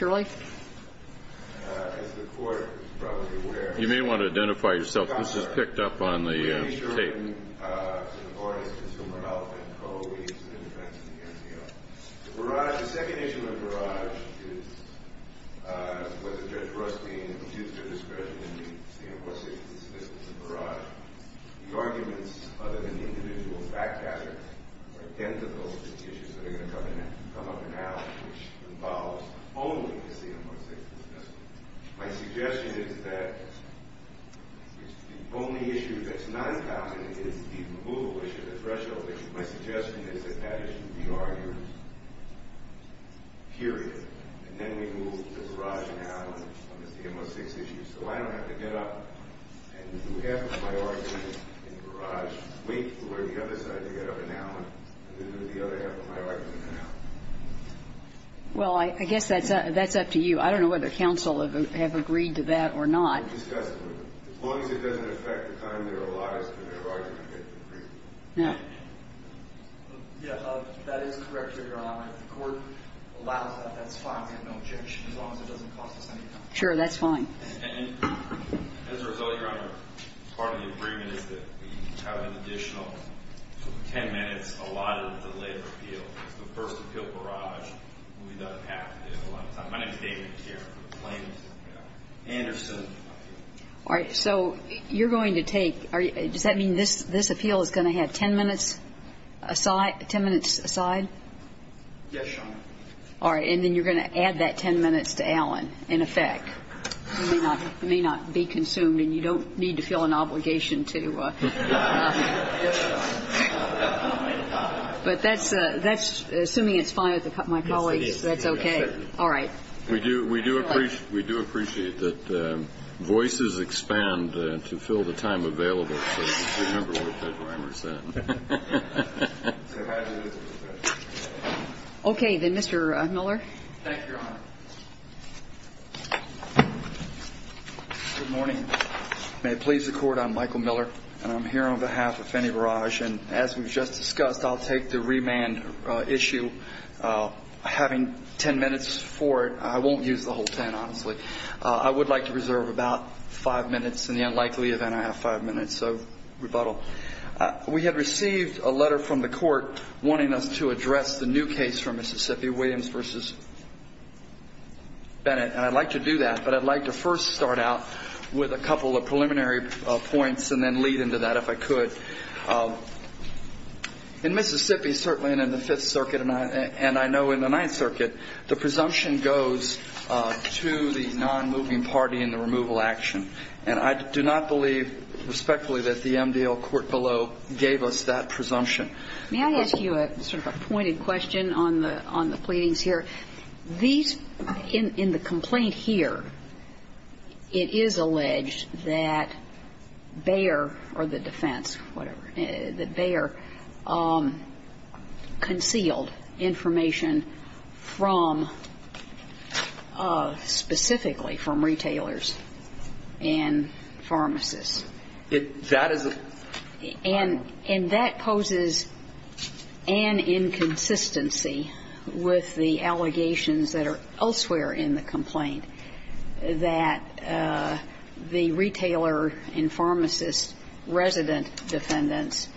You may want to identify yourself. This is picked up on the tape. My suggestion is that the only issue that's non-counted is the removal issue, the threshold issue. My suggestion is that that issue be argued, period. And then we move to Barrage and Allen on the CMO6 issue. So I don't have to get up and do half of my argument in Barrage, wait for the other side to get up in Allen, and then do the other half of my argument in Allen. Well, I guess that's up to you. I don't know whether counsel have agreed to that or not. As long as it doesn't affect the time they're allotted, they're always going to get an agreement. Yeah. Yeah, that is correct, Your Honor. If the court allows that, that's fine. We have no objection, as long as it doesn't cost us any time. Sure, that's fine. And as a result, Your Honor, part of the agreement is that we have an additional 10 minutes allotted to lay the appeal. It's the first appeal Barrage. We've done half of it, a lot of time. My name is David Cairn from the plaintiffs' appeal. Anderson. All right, so you're going to take – does that mean this appeal is going to have 10 minutes aside? Yes, Your Honor. All right, and then you're going to add that 10 minutes to Allen, in effect. It may not be consumed, and you don't need to feel an obligation to – Yes, Your Honor. But that's – assuming it's fine with my colleagues, that's okay. Yes, it is. All right. We do appreciate that voices expand to fill the time available, so just remember what Judge Reimer said. Okay, then, Mr. Miller. Thank you, Your Honor. Good morning. May it please the Court, I'm Michael Miller, and I'm here on behalf of Fannie Barrage. And as we've just discussed, I'll take the remand issue. Having 10 minutes for it, I won't use the whole 10, honestly. I would like to reserve about five minutes in the unlikely event I have five minutes of rebuttal. We have received a letter from the Court wanting us to address the new case from Mississippi, Williams v. Bennett. And I'd like to do that, but I'd like to first start out with a couple of preliminary points and then lead into that if I could. In Mississippi, certainly in the Fifth Circuit, and I know in the Ninth Circuit, the presumption goes to the non-moving party in the removal action. And I do not believe respectfully that the MDL court below gave us that presumption. May I ask you sort of a pointed question on the pleadings here? These, in the complaint here, it is alleged that Bayer or the defense, whatever, that Bayer concealed information from specifically from retailers and pharmacists. And that poses an inconsistency with the allegations that are elsewhere in the complaint, that the retailer and pharmacist resident defendants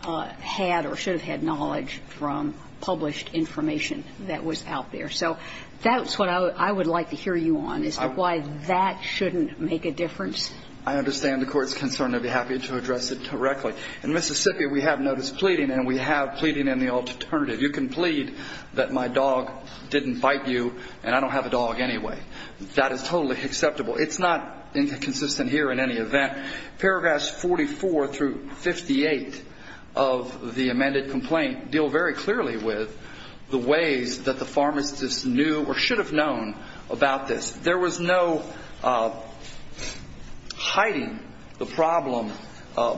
had or should have had knowledge from published information that was out there. So that's what I would like to hear you on, is why that shouldn't make a difference. I understand the court's concern. I'd be happy to address it directly. In Mississippi, we have notice pleading, and we have pleading in the alternative. You can plead that my dog didn't bite you, and I don't have a dog anyway. That is totally acceptable. It's not inconsistent here in any event. Paragraphs 44 through 58 of the amended complaint deal very clearly with the ways that the pharmacist knew or should have known about this. There was no hiding the problem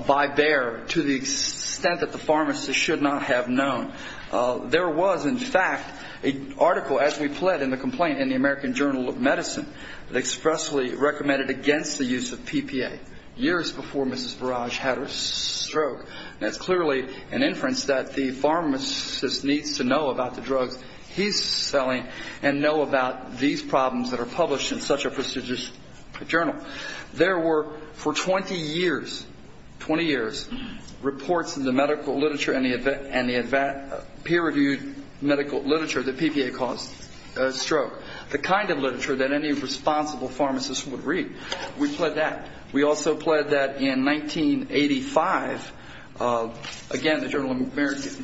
by Bayer to the extent that the pharmacist should not have known. There was, in fact, an article as we pled in the complaint in the American Journal of Medicine that expressly recommended against the use of PPA years before Mrs. Barrage had her stroke. That's clearly an inference that the pharmacist needs to know about the drugs he's selling and know about these problems that are published in such a prestigious journal. There were, for 20 years, 20 years, reports in the medical literature and the peer-reviewed medical literature that PPA caused a stroke, the kind of literature that any responsible pharmacist would read. We pled that. We also pled that in 1985, again, the Journal of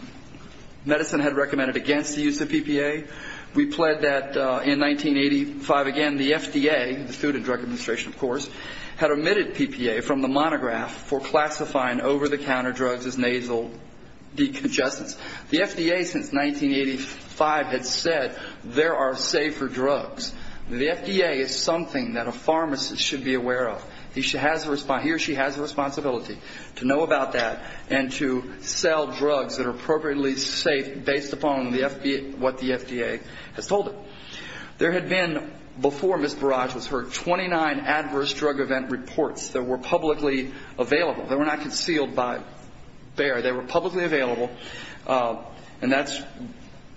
Medicine had recommended against the use of PPA. We pled that in 1985, again, the FDA, the Food and Drug Administration, of course, had omitted PPA from the monograph for classifying over-the-counter drugs as nasal decongestants. The FDA since 1985 had said there are safer drugs. The FDA is something that a pharmacist should be aware of. He or she has a responsibility to know about that and to sell drugs that are appropriately safe based upon what the FDA has told them. There had been, before Mrs. Barrage was hurt, 29 adverse drug event reports that were publicly available. They were not concealed by Bayer. They were publicly available, and that's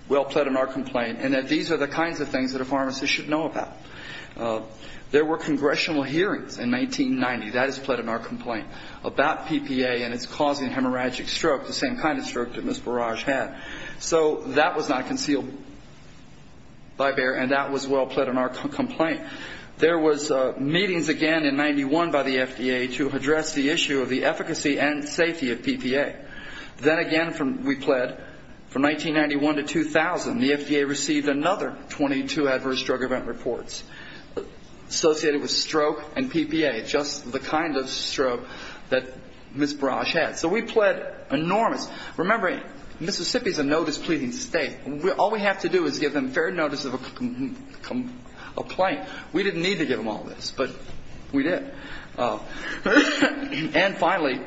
well pled in our complaint, and that these are the kinds of things that a pharmacist should know about. There were congressional hearings in 1990. That is pled in our complaint about PPA and its causing hemorrhagic stroke, the same kind of stroke that Mrs. Barrage had. So that was not concealed by Bayer, and that was well pled in our complaint. There was meetings again in 91 by the FDA to address the issue of the efficacy and safety of PPA. Then again, we pled from 1991 to 2000, the FDA received another 22 adverse drug event reports associated with stroke and PPA, just the kind of stroke that Mrs. Barrage had. So we pled enormous. Remember, Mississippi is a notice-pleading state. All we have to do is give them fair notice of a complaint. We didn't need to give them all this, but we did. And finally,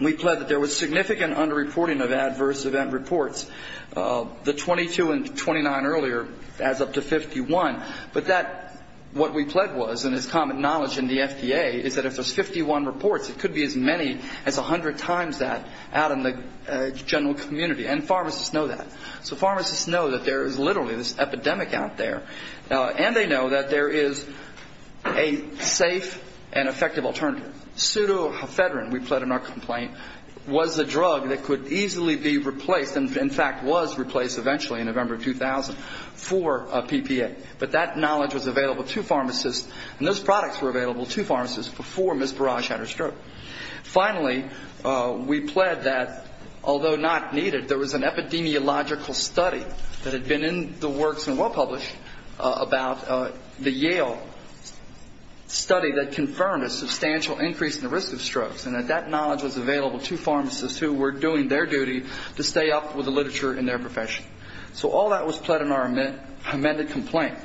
we pled that there was significant underreporting of adverse event reports. The 22 and 29 earlier adds up to 51. But that, what we pled was, and it's common knowledge in the FDA, is that if there's 51 reports, it could be as many as 100 times that out in the general community. And pharmacists know that. So pharmacists know that there is literally this epidemic out there. And they know that there is a safe and effective alternative. Pseudohepedrine, we pled in our complaint, was a drug that could easily be replaced and, in fact, was replaced eventually in November of 2000 for PPA. But that knowledge was available to pharmacists, and those products were available to pharmacists before Mrs. Barrage had her stroke. Finally, we pled that, although not needed, there was an epidemiological study that had been in the works and well-published about the Yale study that confirmed a substantial increase in the risk of strokes, and that that knowledge was available to pharmacists who were doing their duty to stay up with the literature in their profession. So all that was pled in our amended complaint.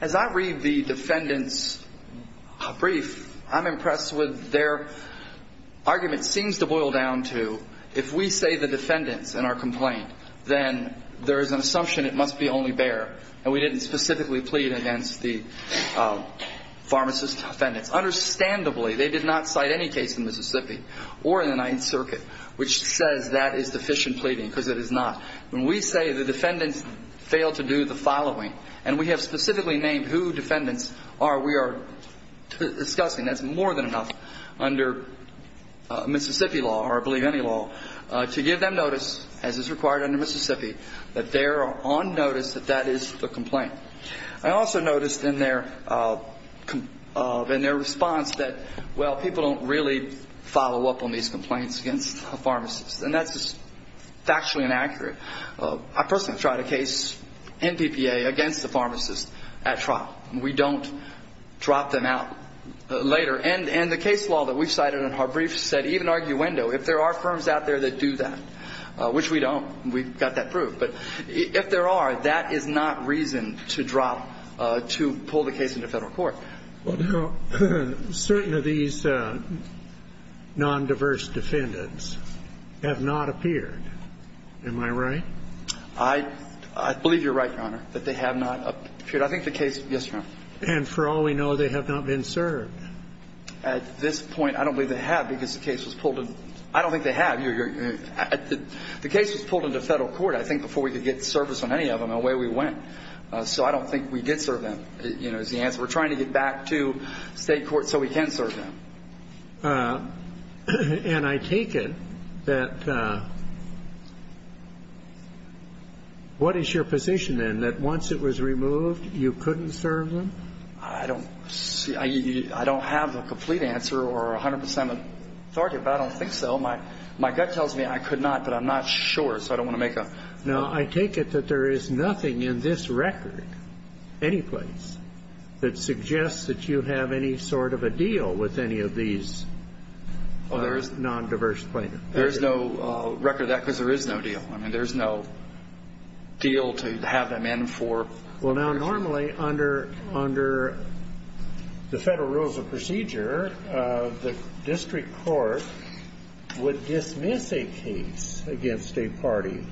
As I read the defendants' brief, I'm impressed with their argument. It seems to boil down to if we say the defendants in our complaint, then there is an assumption it must be only Bayer, and we didn't specifically plead against the pharmacists' defendants. Understandably, they did not cite any case in Mississippi or in the Ninth Circuit which says that is deficient pleading because it is not. When we say the defendants failed to do the following, and we have specifically named who defendants we are discussing, that's more than enough under Mississippi law, or I believe any law, to give them notice, as is required under Mississippi, that they are on notice that that is the complaint. I also noticed in their response that, well, people don't really follow up on these complaints against the pharmacists, and that's factually inaccurate. I personally tried a case in PPA against the pharmacists at trial. We don't drop them out later. And the case law that we cited in our brief said even arguendo, if there are firms out there that do that, which we don't, we've got that proved. But if there are, that is not reason to drop, to pull the case into federal court. Well, now, certain of these nondiverse defendants have not appeared. Am I right? I believe you're right, Your Honor, that they have not appeared. I think the case, yes, Your Honor. And for all we know, they have not been served. At this point, I don't believe they have because the case was pulled in. I don't think they have. The case was pulled into federal court, I think, before we could get service on any of them, and away we went. So I don't think we did serve them, you know, is the answer. We're trying to get back to state court so we can serve them. And I take it that what is your position, then, that once it was removed, you couldn't serve them? I don't have a complete answer or 100 percent of a target, but I don't think so. My gut tells me I could not, but I'm not sure, so I don't want to make a... Now, I take it that there is nothing in this record, any place, that suggests that you have any sort of a deal with any of these non-diverse plaintiffs? There is no record of that because there is no deal. I mean, there's no deal to have them in for... Well, now, normally, under the federal rules of procedure, the district court would dismiss a case against a party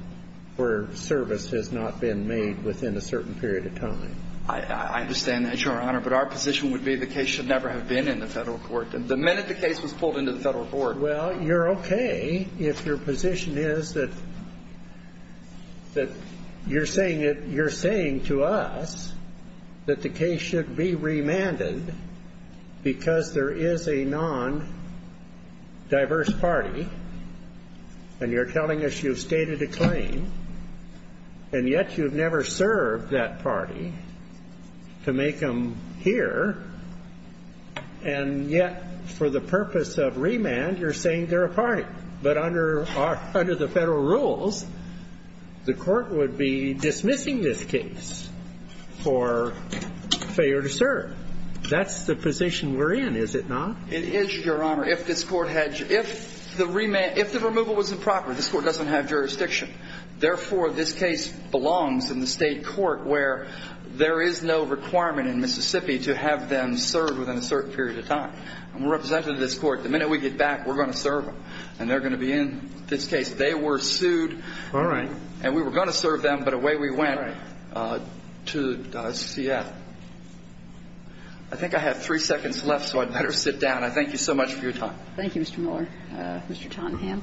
where service has not been made within a certain period of time. I understand that, Your Honor, but our position would be the case should never have been in the federal court. The minute the case was pulled into the federal court... Well, you're okay if your position is that you're saying to us that the case should be remanded because there is a non-diverse party, and you're telling us you've stated a claim, and yet you've never served that party to make them here, and yet, for the purpose of remand, you're saying they're a party. But under the federal rules, the court would be dismissing this case for failure to serve. That's the position we're in, is it not? It is, Your Honor. If the removal was improper, this court doesn't have jurisdiction. Therefore, this case belongs in the state court where there is no requirement in Mississippi to have them serve within a certain period of time. I'm a representative of this court. The minute we get back, we're going to serve them, and they're going to be in this case. They were sued. All right. And we were going to serve them, but away we went to CF. I think I have three seconds left, so I'd better sit down. I thank you so much for your time. Thank you, Mr. Miller. Mr. Tottenham.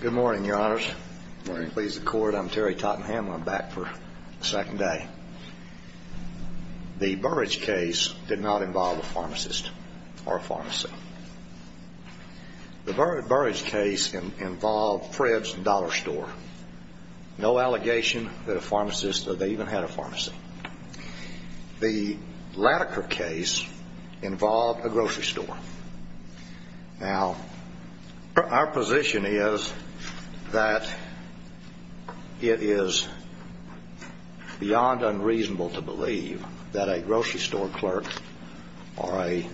Good morning, Your Honors. Good morning. Please accord. I'm Terry Tottenham. I'm back for the second day. The Burrage case did not involve a pharmacist or a pharmacy. The Burrage case involved Fred's Dollar Store. No allegation that a pharmacist or they even had a pharmacy. The Latiker case involved a grocery store. Now, our position is that it is beyond unreasonable to believe that a grocery store clerk or a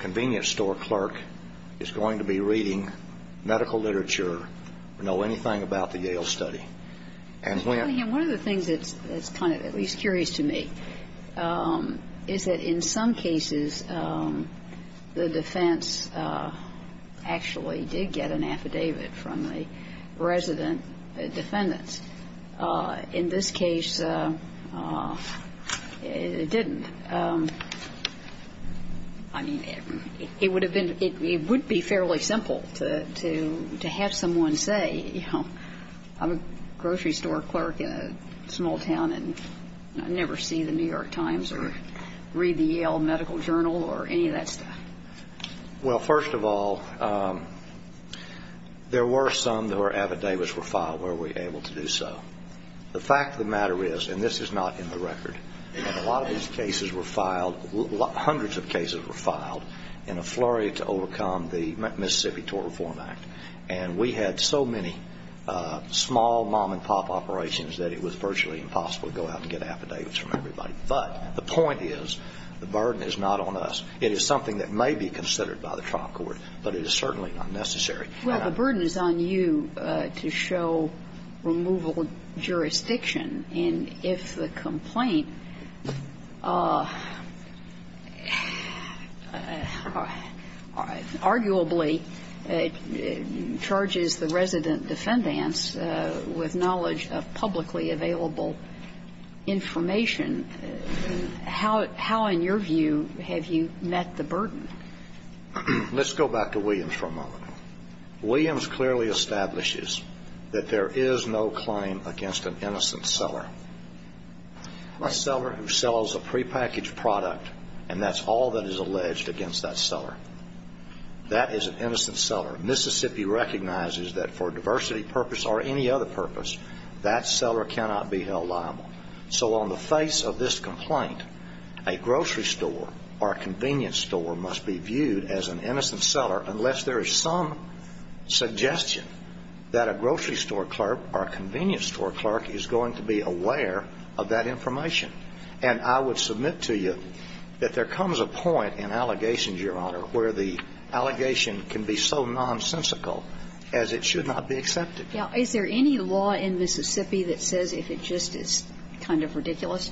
convenience store clerk is going to be reading medical literature or know anything about the Yale study. And when ---- Mr. Tottenham, one of the things that's kind of at least curious to me is that in some cases, the defense actually did get an affidavit from the resident defendants. In this case, it didn't. I mean, it would have been ---- it would be fairly simple to have someone say, you know, I'm a grocery store clerk in a small town and I never see the New York Times or read the Yale Medical Journal or any of that stuff. Well, first of all, there were some that were affidavits were filed where we were able to do so. The fact of the matter is, and this is not in the record, a lot of these cases were filed, hundreds of cases were filed, in a flurry to overcome the Mississippi Tort Reform Act. And we had so many small mom-and-pop operations that it was virtually impossible to go out and get affidavits from everybody. But the point is, the burden is not on us. It is something that may be considered by the trial court, but it is certainly not necessary. Well, the burden is on you to show removal jurisdiction. And if the complaint arguably charges the resident defendants with knowledge of publicly available information, how, in your view, have you met the burden? Let's go back to Williams for a moment. Williams clearly establishes that there is no claim against an innocent seller. A seller who sells a prepackaged product, and that's all that is alleged against that seller, that is an innocent seller. Mississippi recognizes that for a diversity purpose or any other purpose, that seller cannot be held liable. So on the face of this complaint, a grocery store or a convenience store must be viewed as an innocent seller unless there is some suggestion that a grocery store clerk or a convenience store clerk is going to be aware of that information. And I would submit to you that there comes a point in allegations, Your Honor, where the allegation can be so nonsensical as it should not be accepted. Now, is there any law in Mississippi that says if it just is kind of ridiculous,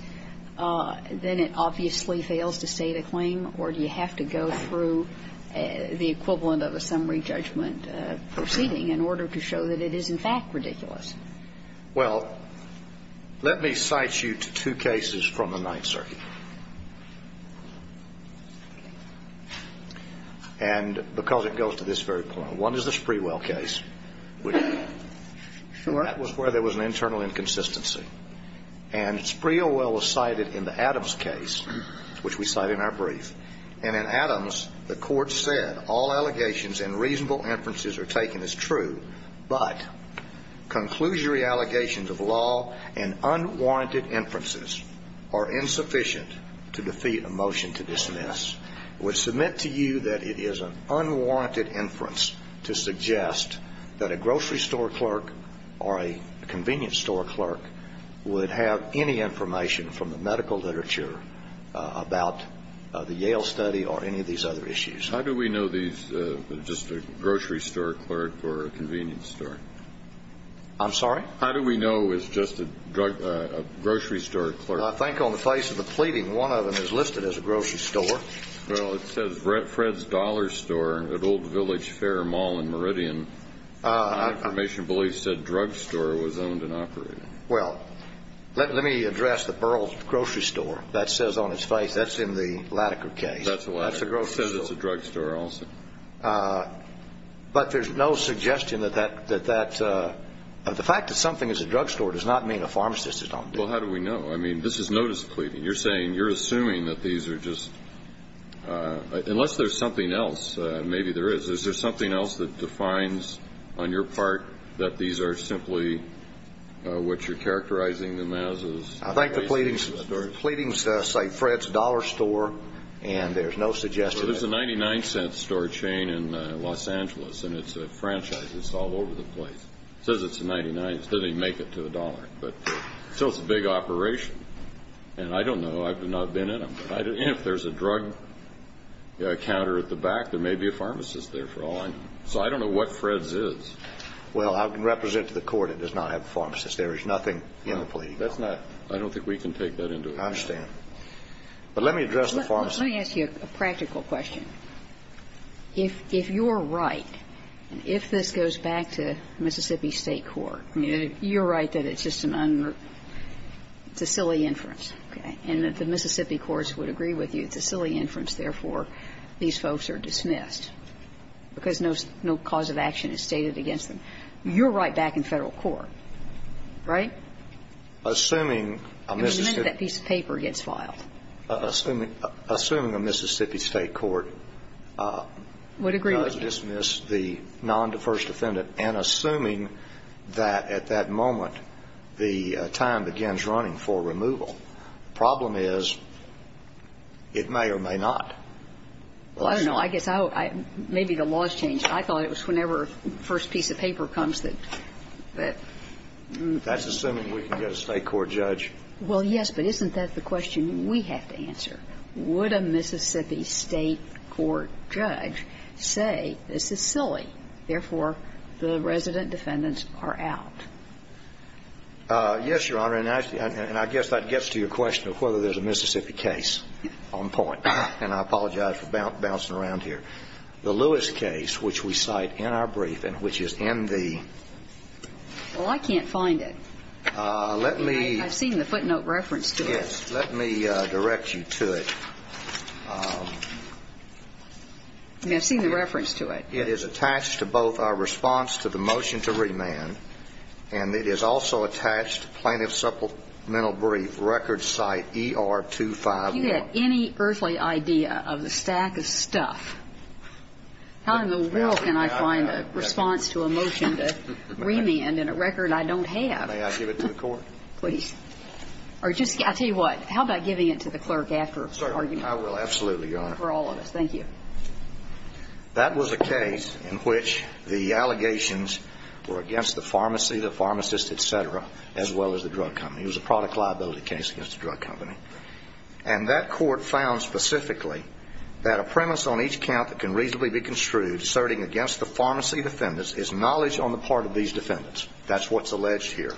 then it obviously fails to state a claim? Or do you have to go through the equivalent of a summary judgment proceeding in order to show that it is, in fact, ridiculous? Well, let me cite you to two cases from the Ninth Circuit. And because it goes to this very point. One is the Sprewell case, which that was where there was an internal inconsistency. And Sprewell was cited in the Adams case, which we cite in our brief. And in Adams, the court said all allegations and reasonable inferences are taken as true, but conclusory allegations of law and unwarranted inferences are insufficient to defeat a motion to dismiss. I would submit to you that it is an unwarranted inference to suggest that a grocery store clerk or a convenience store clerk would have any information from the medical literature about the Yale study or any of these other issues. How do we know these are just a grocery store clerk or a convenience store? I'm sorry? How do we know it's just a grocery store clerk? Well, I think on the face of the pleading, one of them is listed as a grocery store. Well, it says Fred's Dollar Store at Old Village Fair Mall in Meridian. Non-information beliefs said drugstore was owned and operated. Well, let me address the Burrell's Grocery Store. That says on its face that's in the Latiker case. That's a grocery store. It says it's a drugstore also. But there's no suggestion that that the fact that something is a drugstore does not mean a pharmacist is not guilty. Well, how do we know? I mean, this is notice pleading. You're saying you're assuming that these are just unless there's something else. Maybe there is. Is there something else that defines on your part that these are simply what you're characterizing them as? I think the pleadings cite Fred's Dollar Store, and there's no suggestion. There's a 99-cent store chain in Los Angeles, and it's a franchise. It's all over the place. It says it's a 99. It doesn't even make it to a dollar. But still, it's a big operation. And I don't know. I've not been in them. If there's a drug counter at the back, there may be a pharmacist there for all I know. So I don't know what Fred's is. Well, I can represent to the Court it does not have a pharmacist. There is nothing in the pleading. That's not – I don't think we can take that into account. I understand. But let me address the pharmacist. Let me ask you a practical question. If you're right, and if this goes back to Mississippi State Court, you're right that it's just an un – it's a silly inference, okay, and that the Mississippi courts would agree with you. It's a silly inference. Therefore, these folks are dismissed because no cause of action is stated against them. You're right back in Federal court, right? Assuming a Mississippi – I mean, the minute that piece of paper gets filed. Assuming a Mississippi State Court – Would agree with you. Well, I don't know. I guess I would – maybe the law has changed. I thought it was whenever the first piece of paper comes that – that – That's assuming we can get a State court judge. Well, yes, but isn't that the question we have to answer? This is silly. Therefore, the resident defendants are out. Yes, Your Honor. And I guess that gets to your question of whether there's a Mississippi case on point. And I apologize for bouncing around here. The Lewis case, which we cite in our briefing, which is in the – Well, I can't find it. Let me – I've seen the footnote reference to it. Yes. Let me direct you to it. I mean, I've seen the reference to it. It is attached to both our response to the motion to remand, and it is also attached to plaintiff's supplemental brief, record site ER251. If you get any earthly idea of the stack of stuff, how in the world can I find a response to a motion to remand in a record I don't have? May I give it to the court? Please. Or just – I'll tell you what. How about giving it to the clerk after the argument? I will absolutely, Your Honor. For all of us. Thank you. That was a case in which the allegations were against the pharmacy, the pharmacist, et cetera, as well as the drug company. It was a product liability case against the drug company. And that court found specifically that a premise on each count that can reasonably be construed asserting against the pharmacy defendants is knowledge on the part of these defendants. That's what's alleged here.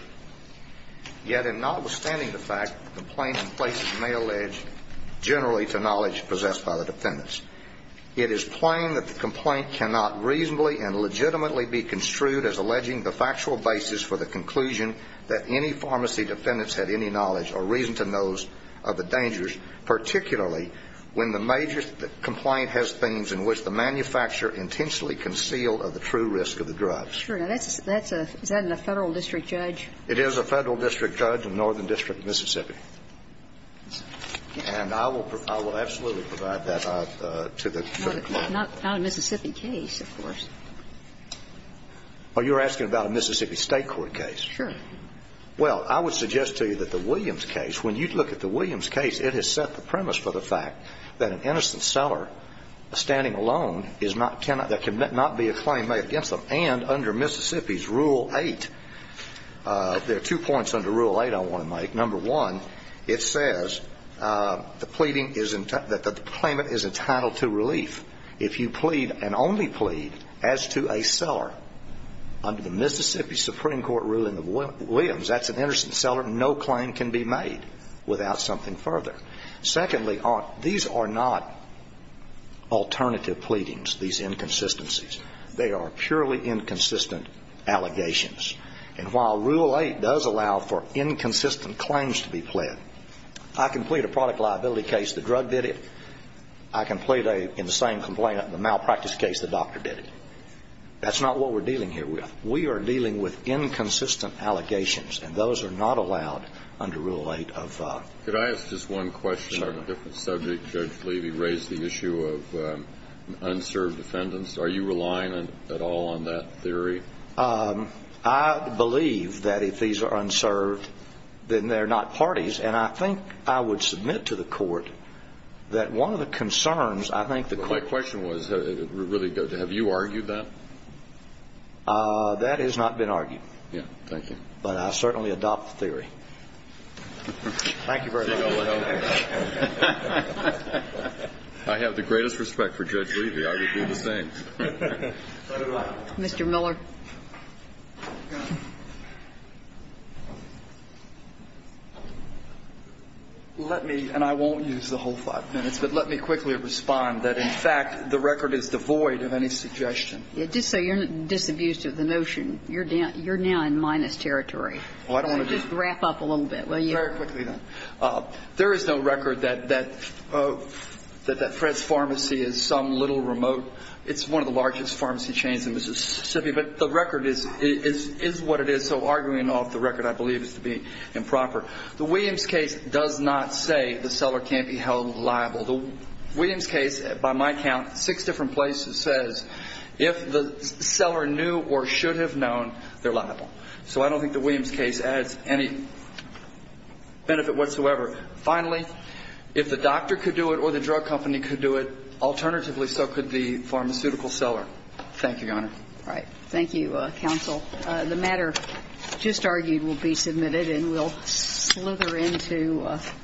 Yet in notwithstanding the fact that complaints in places may allege generally to knowledge possessed by the defendants, it is plain that the complaint cannot reasonably and legitimately be construed as alleging the factual basis for the conclusion that any pharmacy defendants had any knowledge or reason to know of the dangers, particularly when the major complaint has themes in which the manufacturer intentionally concealed of the true risk of the drugs. Is that a federal district judge? It is a federal district judge in the northern district of Mississippi. And I will absolutely provide that to the clerk. Not a Mississippi case, of course. Oh, you're asking about a Mississippi State court case? Sure. Well, I would suggest to you that the Williams case, when you look at the Williams case, it has set the premise for the fact that an innocent seller standing alone that can not be a claim made against them. And under Mississippi's Rule 8, there are two points under Rule 8 I want to make. Number one, it says that the claimant is entitled to relief. If you plead and only plead as to a seller under the Mississippi Supreme Court ruling of Williams, that's an innocent seller. No claim can be made without something further. Secondly, these are not alternative pleadings, these inconsistencies. They are purely inconsistent allegations. And while Rule 8 does allow for inconsistent claims to be pled, I can plead a product liability case, the drug did it. I can plead in the same complaint, the malpractice case, the doctor did it. That's not what we're dealing here with. We are dealing with inconsistent allegations, and those are not allowed under Rule 8. Could I ask just one question on a different subject? Judge Levy raised the issue of unserved defendants. Are you relying at all on that theory? I believe that if these are unserved, then they're not parties. And I think I would submit to the court that one of the concerns I think the court My question was, have you argued that? That has not been argued. Thank you. But I certainly adopt the theory. Thank you very much. I have the greatest respect for Judge Levy. I would do the same. Mr. Miller. Let me, and I won't use the whole five minutes, but let me quickly respond that, in fact, the record is devoid of any suggestion. Just so you're not disabused of the notion, you're now in minus territory. Just wrap up a little bit, will you? Very quickly, then. There is no record that Fred's Pharmacy is some little remote. It's one of the largest pharmacy chains in Mississippi, but the record is what it is. So arguing off the record, I believe, is to be improper. The Williams case does not say the seller can't be held liable. The Williams case, by my count, six different places says if the seller knew or should have known, they're liable. So I don't think the Williams case adds any benefit whatsoever. Finally, if the doctor could do it or the drug company could do it, alternatively so could the pharmaceutical seller. Thank you, Your Honor. All right. Thank you, counsel. The matter just argued will be submitted, and we'll slither into the next item.